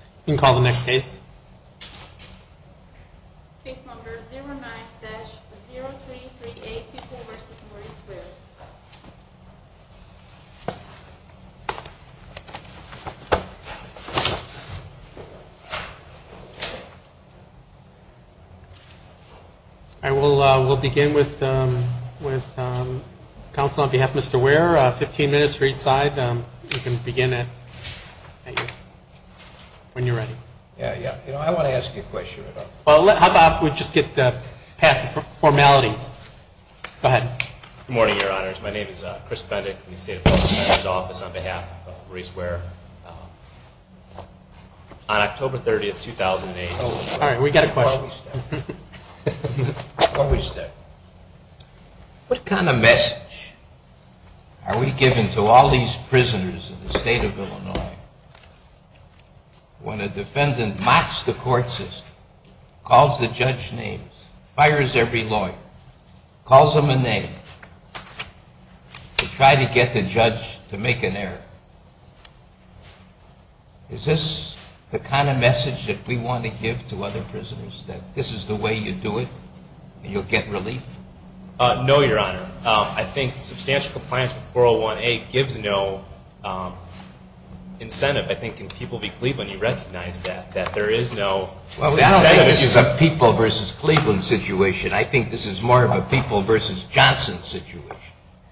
You can call the next case. Case number 09-0338 Pupil v. Murray Square. We'll begin with counsel on behalf of Mr. Ware. 15 minutes for each side. You can begin when you're ready. Yeah, yeah. I want to ask you a question. How about we just get past the formalities? Go ahead. Good morning, Your Honors. My name is Chris Pendick. I'm in the State Appellant's Office on behalf of Murray Square. On October 30, 2008... All right, we've got a question. What was that? Are we giving to all these prisoners in the state of Illinois, when a defendant mocks the court system, calls the judge names, fires every lawyer, calls them a name, to try to get the judge to make an error? Is this the kind of message that we want to give to other prisoners, that this is the way you do it and you'll get relief? No, Your Honor. I think substantial compliance with 401A gives no incentive, I think, in People v. Cleveland. You recognize that, that there is no incentive. Well, I don't think this is a People v. Cleveland situation. I think this is more of a People v. Johnson situation.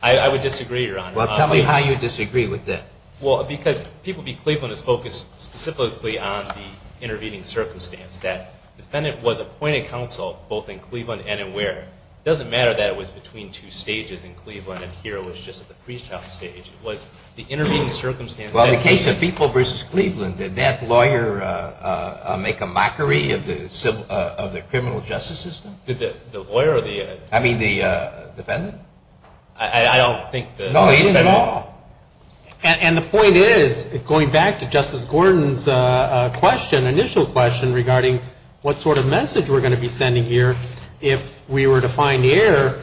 I would disagree, Your Honor. Well, tell me how you disagree with that. Well, because People v. Cleveland is focused specifically on the intervening circumstance, that the defendant was appointed counsel both in Cleveland and in Ware. It doesn't matter that it was between two stages in Cleveland and here it was just at the pre-trial stage. It was the intervening circumstance. Well, in the case of People v. Cleveland, did that lawyer make a mockery of the criminal justice system? The lawyer or the? I mean the defendant. I don't think the defendant. No, he didn't at all. And the point is, going back to Justice Gordon's question, initial question, regarding what sort of message we're going to be sending here if we were to find error,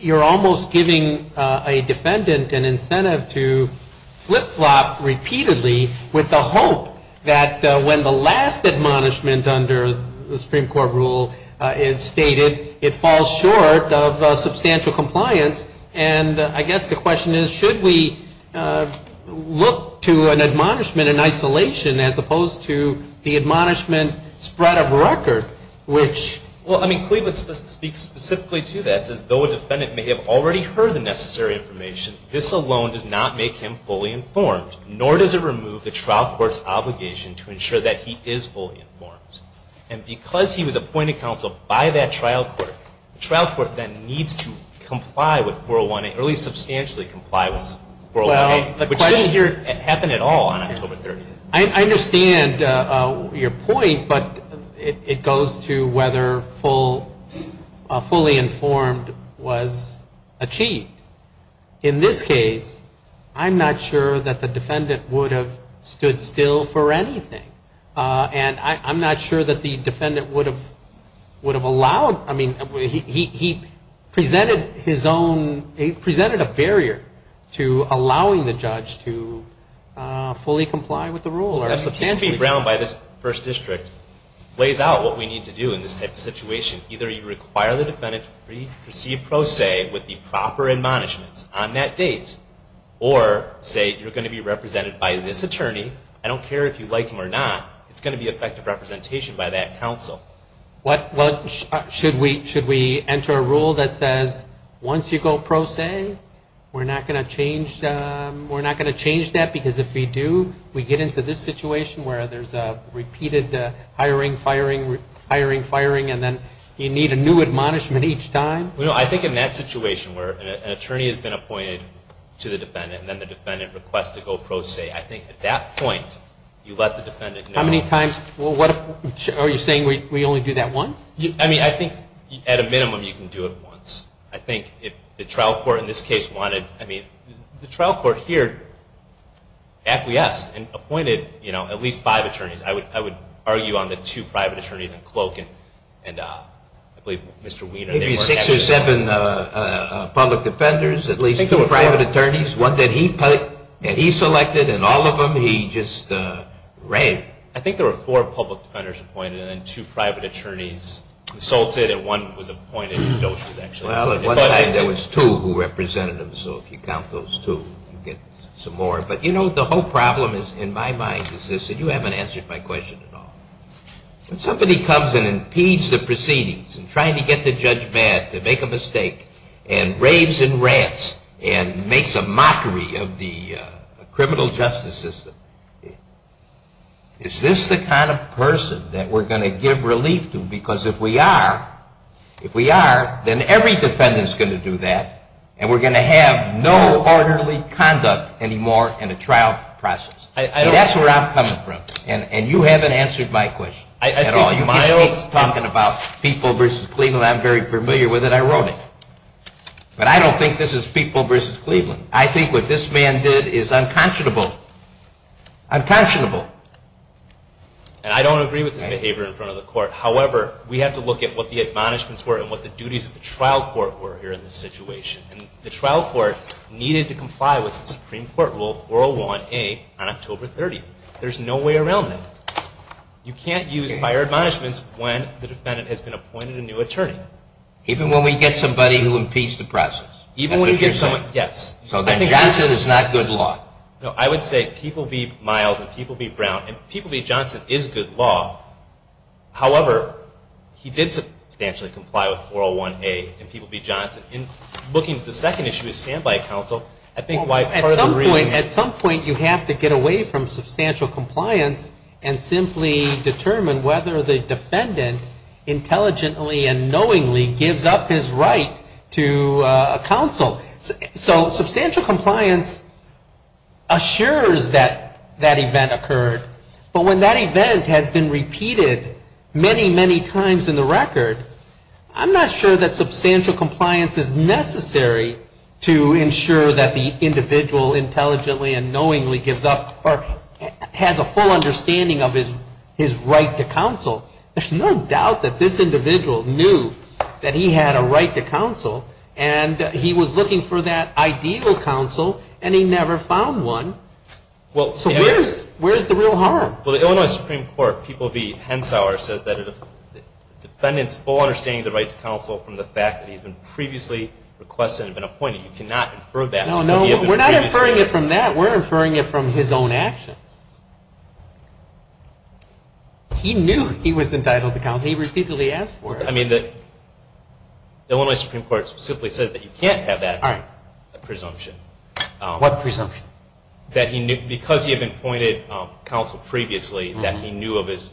you're almost giving a defendant an incentive to flip-flop repeatedly with the hope that when the last admonishment under the Supreme Court rule is stated, it falls short of substantial compliance. And I guess the question is, should we look to an admonishment in isolation as opposed to the admonishment spread of record, which? Well, I mean, Cleveland speaks specifically to that. It says, though a defendant may have already heard the necessary information, this alone does not make him fully informed, nor does it remove the trial court's obligation to ensure that he is fully informed. And because he was appointed counsel by that trial court, the trial court then needs to comply with 401A, or at least substantially comply with 401A, which didn't happen at all on October 30th. I understand your point, but it goes to whether fully informed was achieved. In this case, I'm not sure that the defendant would have stood still for anything. And I'm not sure that the defendant would have allowed, I mean, he presented his own, he presented a barrier to allowing the judge to fully comply with the rule. That's what can be ground by this first district, lays out what we need to do in this type of situation. Either you require the defendant to proceed pro se with the proper admonishments on that date, or say you're going to be represented by this attorney, I don't care if you like him or not, it's going to be effective representation by that counsel. Well, should we enter a rule that says once you go pro se, we're not going to change that? Because if we do, we get into this situation where there's a repeated hiring, firing, hiring, firing, and then you need a new admonishment each time? Well, no, I think in that situation where an attorney has been appointed to the defendant and then the defendant requests to go pro se, I think at that point you let the defendant know. How many times, are you saying we only do that once? I mean, I think at a minimum you can do it once. I think if the trial court in this case wanted, I mean, the trial court here acquiesced and appointed at least five attorneys. I would argue on the two private attorneys in Cloak and I believe Mr. Wiener. Maybe six or seven public defenders, at least two private attorneys, one that he selected and all of them he just raved. I think there were four public defenders appointed and then two private attorneys consulted and one was appointed. Well, at one time there was two who represented him, so if you count those two, you get some more. But, you know, the whole problem in my mind is this, and you haven't answered my question at all. When somebody comes and impedes the proceedings and trying to get the judge mad to make a mistake and raves and rants and makes a mockery of the criminal justice system, is this the kind of person that we're going to give relief to? Because if we are, if we are, then every defendant is going to do that and we're going to have no orderly conduct anymore in a trial process. That's where I'm coming from, and you haven't answered my question at all. You keep talking about people versus Cleveland. I'm very familiar with it. I wrote it. But I don't think this is people versus Cleveland. I think what this man did is unconscionable. Unconscionable. And I don't agree with his behavior in front of the court. However, we have to look at what the admonishments were and what the duties of the trial court were here in this situation. And the trial court needed to comply with Supreme Court Rule 401A on October 30th. There's no way around that. You can't use prior admonishments when the defendant has been appointed a new attorney. Even when we get somebody who impedes the process? Even when we get someone, yes. So then Johnson is not good law? No, I would say people be Miles and people be Brown, and people be Johnson is good law. However, he did substantially comply with 401A and people be Johnson. In looking at the second issue of standby counsel, I think why part of the reasoning is we have to get away from substantial compliance and simply determine whether the defendant intelligently and knowingly gives up his right to counsel. So substantial compliance assures that that event occurred. But when that event has been repeated many, many times in the record, I'm not sure that substantial compliance is necessary to ensure that the individual intelligently and knowingly gives up or has a full understanding of his right to counsel. There's no doubt that this individual knew that he had a right to counsel, and he was looking for that ideal counsel, and he never found one. So where's the real harm? Well, the Illinois Supreme Court, people be Hensauer, says that the defendant's full understanding of the right to counsel from the fact that he's been previously requested and been appointed. You cannot infer that. No, no, we're not inferring it from that. We're inferring it from his own actions. He knew he was entitled to counsel. He repeatedly asked for it. I mean, the Illinois Supreme Court simply says that you can't have that presumption. What presumption? That because he had been appointed counsel previously, that he knew of his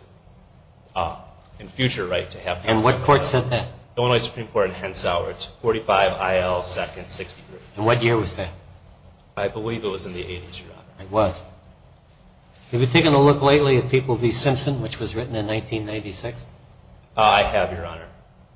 future right to have counsel. And what court said that? Illinois Supreme Court and Hensauer. It's 45 IL second 63. And what year was that? I believe it was in the 80s, Your Honor. It was. Have you taken a look lately at People v. Simpson, which was written in 1996? I have, Your Honor.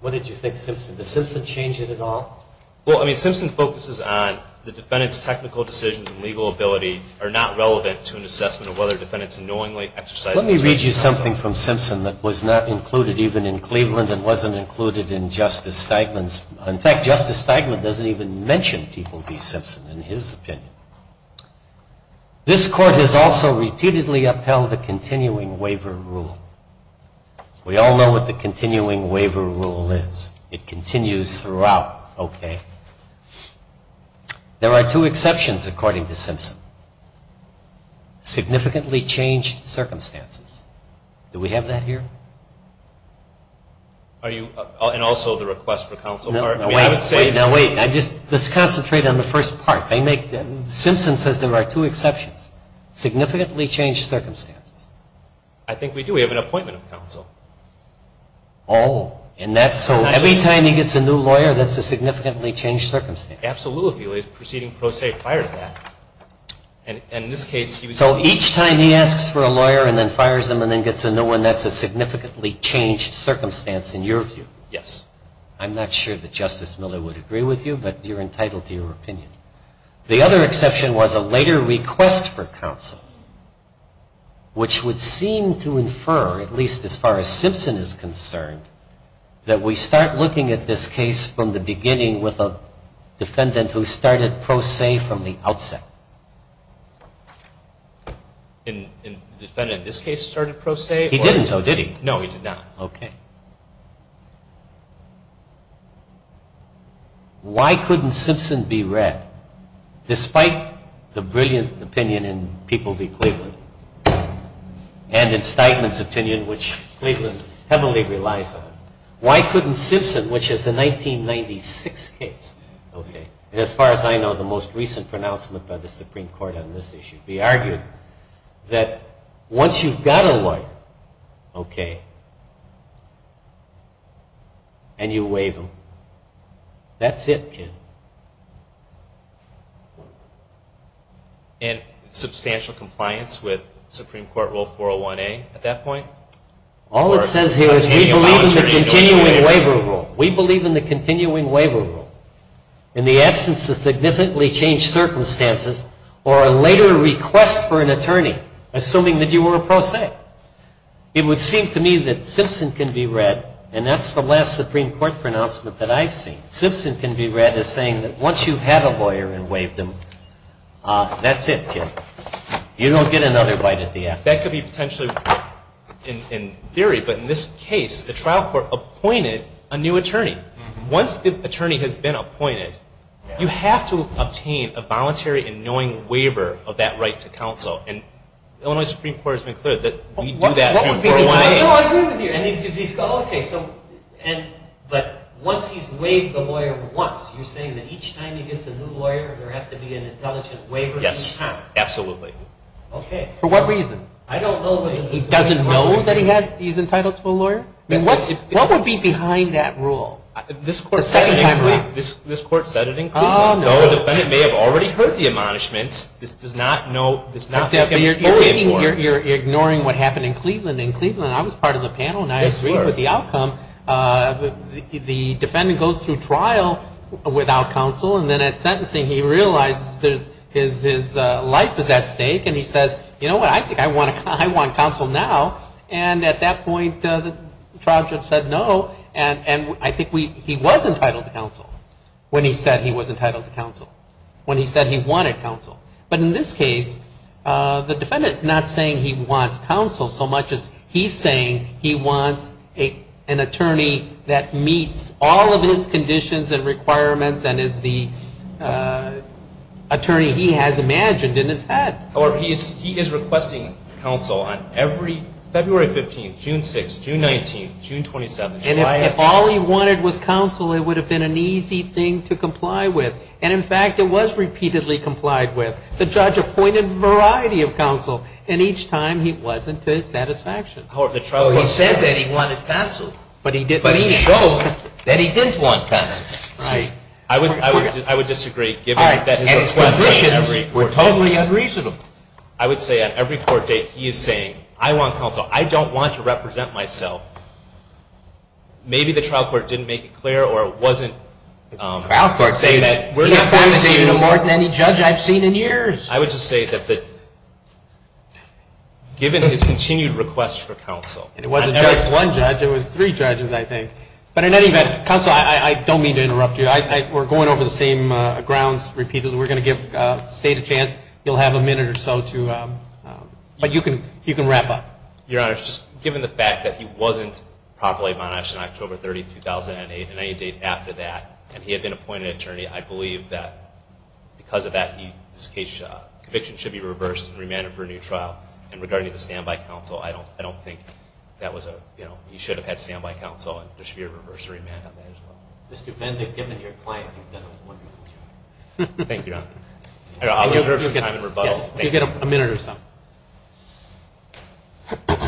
What did you think, Simpson? Did Simpson change it at all? Well, I mean, Simpson focuses on the defendant's technical decisions and legal ability are not relevant to an assessment of whether a defendant's knowingly exercised his right to counsel. Let me read you something from Simpson that was not included even in Cleveland and wasn't included in Justice Steigman's. In fact, Justice Steigman doesn't even mention People v. Simpson in his opinion. This court has also repeatedly upheld the continuing waiver rule. We all know what the continuing waiver rule is. It continues throughout, okay? There are two exceptions, according to Simpson. Significantly changed circumstances. Do we have that here? And also the request for counsel part? No, wait. Let's concentrate on the first part. Simpson says there are two exceptions. Significantly changed circumstances. I think we do. We have an appointment of counsel. Oh, and that's so every time he gets a new lawyer, that's a significantly changed circumstance. Absolutely. Proceeding pro se prior to that. So each time he asks for a lawyer and then fires them and then gets a new one, that's a significantly changed circumstance in your view? Yes. I'm not sure that Justice Miller would agree with you, but you're entitled to your opinion. The other exception was a later request for counsel, which would seem to infer, at least as far as Simpson is concerned, that we start looking at this case from the beginning with a defendant who started pro se from the outset. The defendant in this case started pro se? He didn't, though, did he? No, he did not. Okay. Why couldn't Simpson be read, despite the brilliant opinion in People v. Cleveland and in Steinman's opinion, which Cleveland heavily relies on? Why couldn't Simpson, which is a 1996 case, and as far as I know, the most recent pronouncement by the Supreme Court on this issue, be argued that once you've got a lawyer, okay, and you waive them, that's it, kid. And substantial compliance with Supreme Court Rule 401A at that point? All it says here is we believe in the continuing waiver rule. We believe in the continuing waiver rule. In the absence of significantly changed circumstances or a later request for an attorney, assuming that you were a pro se. It would seem to me that Simpson can be read, and that's the last Supreme Court pronouncement that I've seen, Simpson can be read as saying that once you've had a lawyer and waived them, that's it, kid. You don't get another bite at the end. That could be potentially in theory, but in this case the trial court appointed a new attorney. Once the attorney has been appointed, you have to obtain a voluntary and knowing waiver of that right to counsel, and the Illinois Supreme Court has been clear that we do that through 401A. No, I agree with you. But once he's waived the lawyer once, you're saying that each time he gets a new lawyer, there has to be an intelligent waiver? Yes, absolutely. Okay. For what reason? I don't know. He doesn't know that he's entitled to a lawyer? What would be behind that rule? The second time around. This court said it in Cleveland. The defendant may have already heard the admonishments. This does not know. You're ignoring what happened in Cleveland. In Cleveland, I was part of the panel, and I agreed with the outcome. The defendant goes through trial without counsel, and then at sentencing he realizes his life is at stake, and he says, you know what, I think I want counsel now. And at that point, the trial judge said no, and I think he was entitled to counsel when he said he was entitled to counsel, when he said he wanted counsel. But in this case, the defendant is not saying he wants counsel so much as he's saying he wants an attorney that meets all of his conditions and requirements and is the attorney he has imagined in his head. However, he is requesting counsel on every February 15th, June 6th, June 19th, June 27th. And if all he wanted was counsel, it would have been an easy thing to comply with. And, in fact, it was repeatedly complied with. The judge appointed a variety of counsel, and each time he wasn't to his satisfaction. So he said that he wanted counsel. But he didn't. But he showed that he didn't want counsel. I would disagree. All right. And his conditions were totally unreasonable. I would say on every court date, he is saying, I want counsel. I don't want to represent myself. Maybe the trial court didn't make it clear, or it wasn't saying that we're not going to see him. The trial court is saying it more than any judge I've seen in years. I would just say that given his continued request for counsel. And it wasn't just one judge. It was three judges, I think. But in any event, counsel, I don't mean to interrupt you. We're going over the same grounds repeatedly. We're going to give the State a chance. You'll have a minute or so to, but you can wrap up. Your Honor, just given the fact that he wasn't properly punished on October 30, 2008, and any date after that, and he had been appointed attorney, I believe that because of that, his conviction should be reversed and remanded for a new trial. And regarding the standby counsel, I don't think that was a, you know, he should have had standby counsel and there should be a reverse remand on that as well. Mr. Bendeck, given your claim, you've done a wonderful job. Thank you, Your Honor. I'll reserve some time for rebuttal. You'll get a minute or so. Good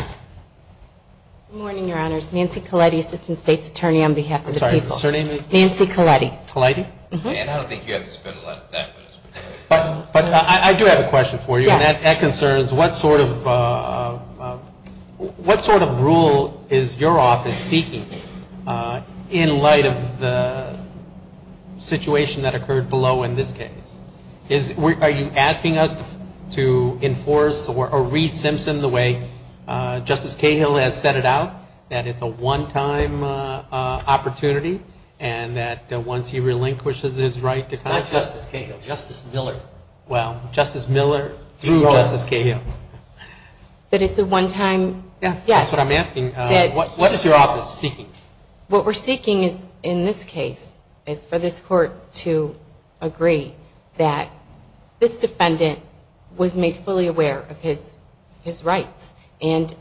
morning, Your Honors. Nancy Colletti, Assistant State's Attorney on behalf of the people. I'm sorry, your surname is? Nancy Colletti. Colletti? And I don't think you have to spend a lot of time with us. But I do have a question for you. Yeah. That concerns what sort of rule is your office seeking in light of the situation that occurred below in this case? Are you asking us to enforce or read Simpson the way Justice Cahill has set it out, that it's a one-time opportunity and that once he relinquishes his right to conduct? Not Justice Cahill, Justice Miller. Justice Miller through Justice Cahill. That it's a one-time? Yes. That's what I'm asking. What is your office seeking? What we're seeking in this case is for this court to agree that this defendant was made fully aware of his rights. And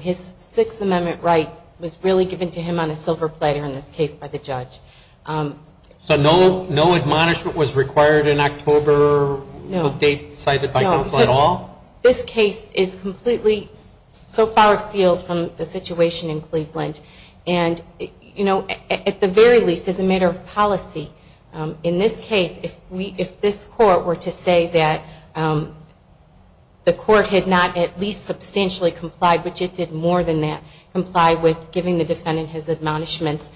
his Sixth Amendment right was really given to him on a silver platter in this case by the judge. So no admonishment was required in October? No. No date cited by counsel at all? No. This case is completely so far afield from the situation in Cleveland. And, you know, at the very least, as a matter of policy, in this case, if this court were to say that the court had not at least substantially complied, which it did more than that, complied with giving the defendant his admonishments,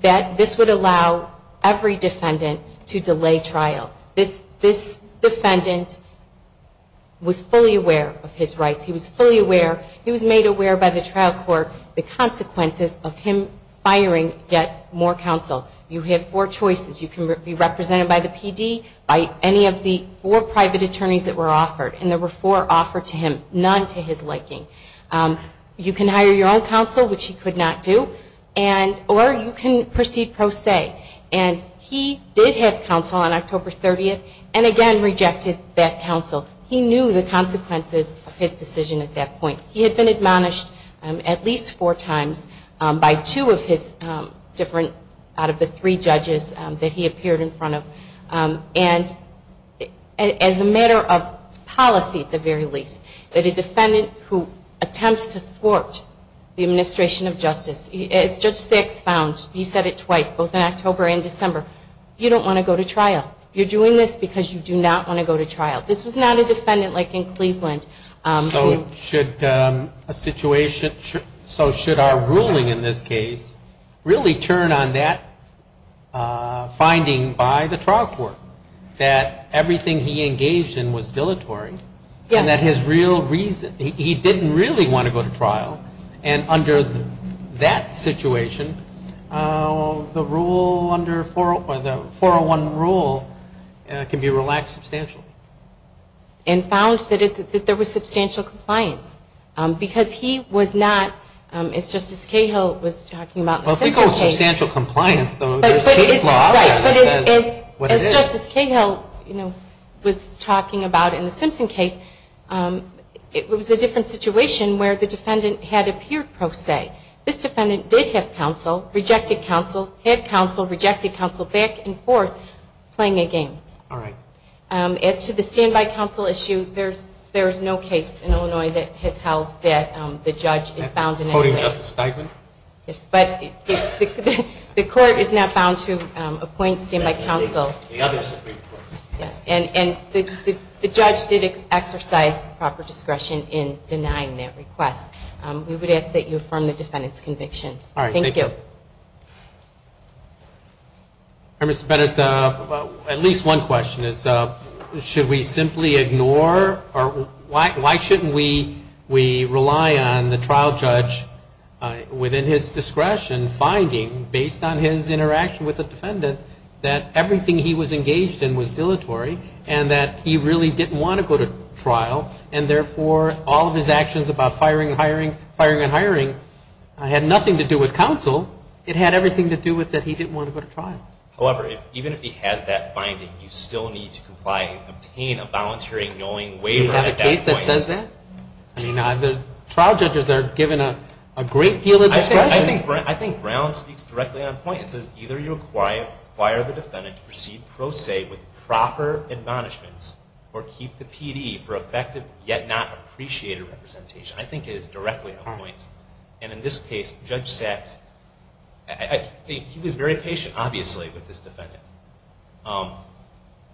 that this would allow every defendant to delay trial. This defendant was fully aware of his rights. He was fully aware. He was made aware by the trial court the consequences of him firing yet more counsel. You have four choices. You can be represented by the PD, by any of the four private attorneys that were offered. And there were four offered to him, none to his liking. You can hire your own counsel, which he could not do. Or you can proceed pro se. And he did have counsel on October 30th and, again, rejected that counsel. He knew the consequences of his decision at that point. He had been admonished at least four times by two of his different, out of the three judges that he appeared in front of. And as a matter of policy, at the very least, that a defendant who attempts to thwart the administration of justice, as Judge Six found, he said it twice, both in October and December, you don't want to go to trial. You're doing this because you do not want to go to trial. This was not a defendant like in Cleveland. So should a situation so should our ruling in this case really turn on that finding by the trial court, that everything he engaged in was dilatory. Yes. And that his real reason, he didn't really want to go to trial. And under that situation, the rule under the 401 rule can be relaxed substantially. And found that there was substantial compliance. Because he was not, as Justice Cahill was talking about. If we call it substantial compliance, there's case law that says what it is. As Justice Cahill was talking about in the Simpson case, it was a different situation where the defendant had appeared pro se. This defendant did have counsel, rejected counsel, had counsel, rejected counsel, back and forth, playing a game. All right. As to the standby counsel issue, there is no case in Illinois that has held that the judge is found in any way. Yes. But the court is not bound to appoint standby counsel. Yes. And the judge did exercise proper discretion in denying that request. We would ask that you affirm the defendant's conviction. All right. Thank you. Thank you. All right, Mr. Bennett, at least one question is, should we simply ignore or why shouldn't we rely on the trial judge within his discretion finding, based on his interaction with the defendant, that everything he was engaged in was dilatory and that he really didn't want to go to trial, and therefore all of his actions about firing and hiring had nothing to do with counsel. It had everything to do with that he didn't want to go to trial. However, even if he has that finding, you still need to comply and obtain a volunteering knowing waiver at that point. Do you have a case that says that? I mean, the trial judges are given a great deal of discretion. I think Brown speaks directly on point. It says either you acquire the defendant to proceed pro se with proper admonishments or keep the PD for effective yet not appreciated representation. I think it is directly on point. And in this case, Judge Sachs, I think he was very patient, obviously, with this defendant.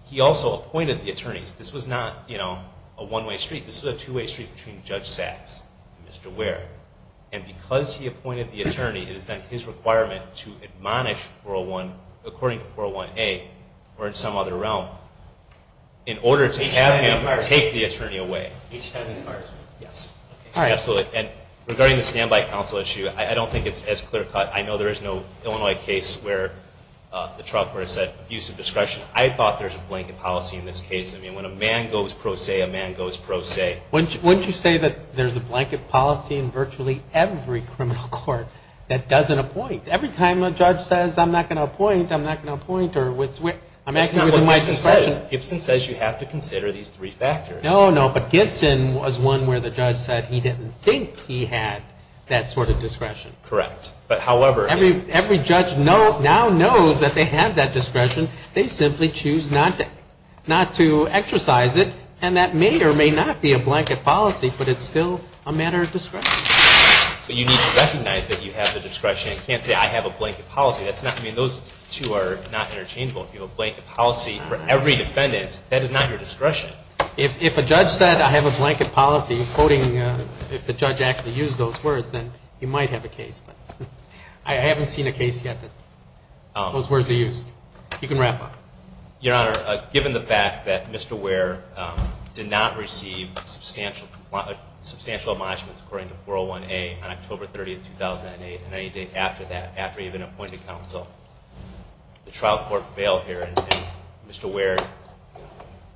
He also appointed the attorneys. This was not, you know, a one-way street. This was a two-way street between Judge Sachs and Mr. Ware. And because he appointed the attorney, it is then his requirement to admonish 401, according to 401A, or in some other realm, in order to have him take the attorney away. Each have his parts. Yes. Absolutely. And regarding the standby counsel issue, I don't think it's as clear cut. I know there is no Illinois case where the trial court said abuse of discretion. I thought there's a blanket policy in this case. I mean, when a man goes pro se, a man goes pro se. Wouldn't you say that there's a blanket policy in virtually every criminal court that doesn't appoint? Every time a judge says, I'm not going to appoint, I'm not going to appoint or I'm asking you to do my discretion. That's not what Gibson says. Gibson says you have to consider these three factors. No, no. But Gibson was one where the judge said he didn't think he had that sort of discretion. Correct. But, however, I mean. not to exercise it. And that may or may not be a blanket policy, but it's still a matter of discretion. But you need to recognize that you have the discretion. You can't say, I have a blanket policy. I mean, those two are not interchangeable. If you have a blanket policy for every defendant, that is not your discretion. If a judge said, I have a blanket policy, quoting, if the judge actually used those words, then you might have a case. I haven't seen a case yet that those words are used. You can wrap up. Your Honor, given the fact that Mr. Ware did not receive substantial admonishments according to 401A on October 30, 2008, and any date after that, after he had been appointed counsel, the trial court failed here and Mr. Ware's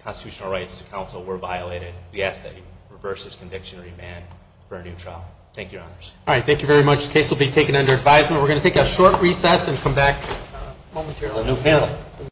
constitutional rights to counsel were violated. We ask that he reverse his conviction and remand for a new trial. Thank you, Your Honors. All right. Thank you very much. The case will be taken under advisement. We're going to take a short recess and come back momentarily.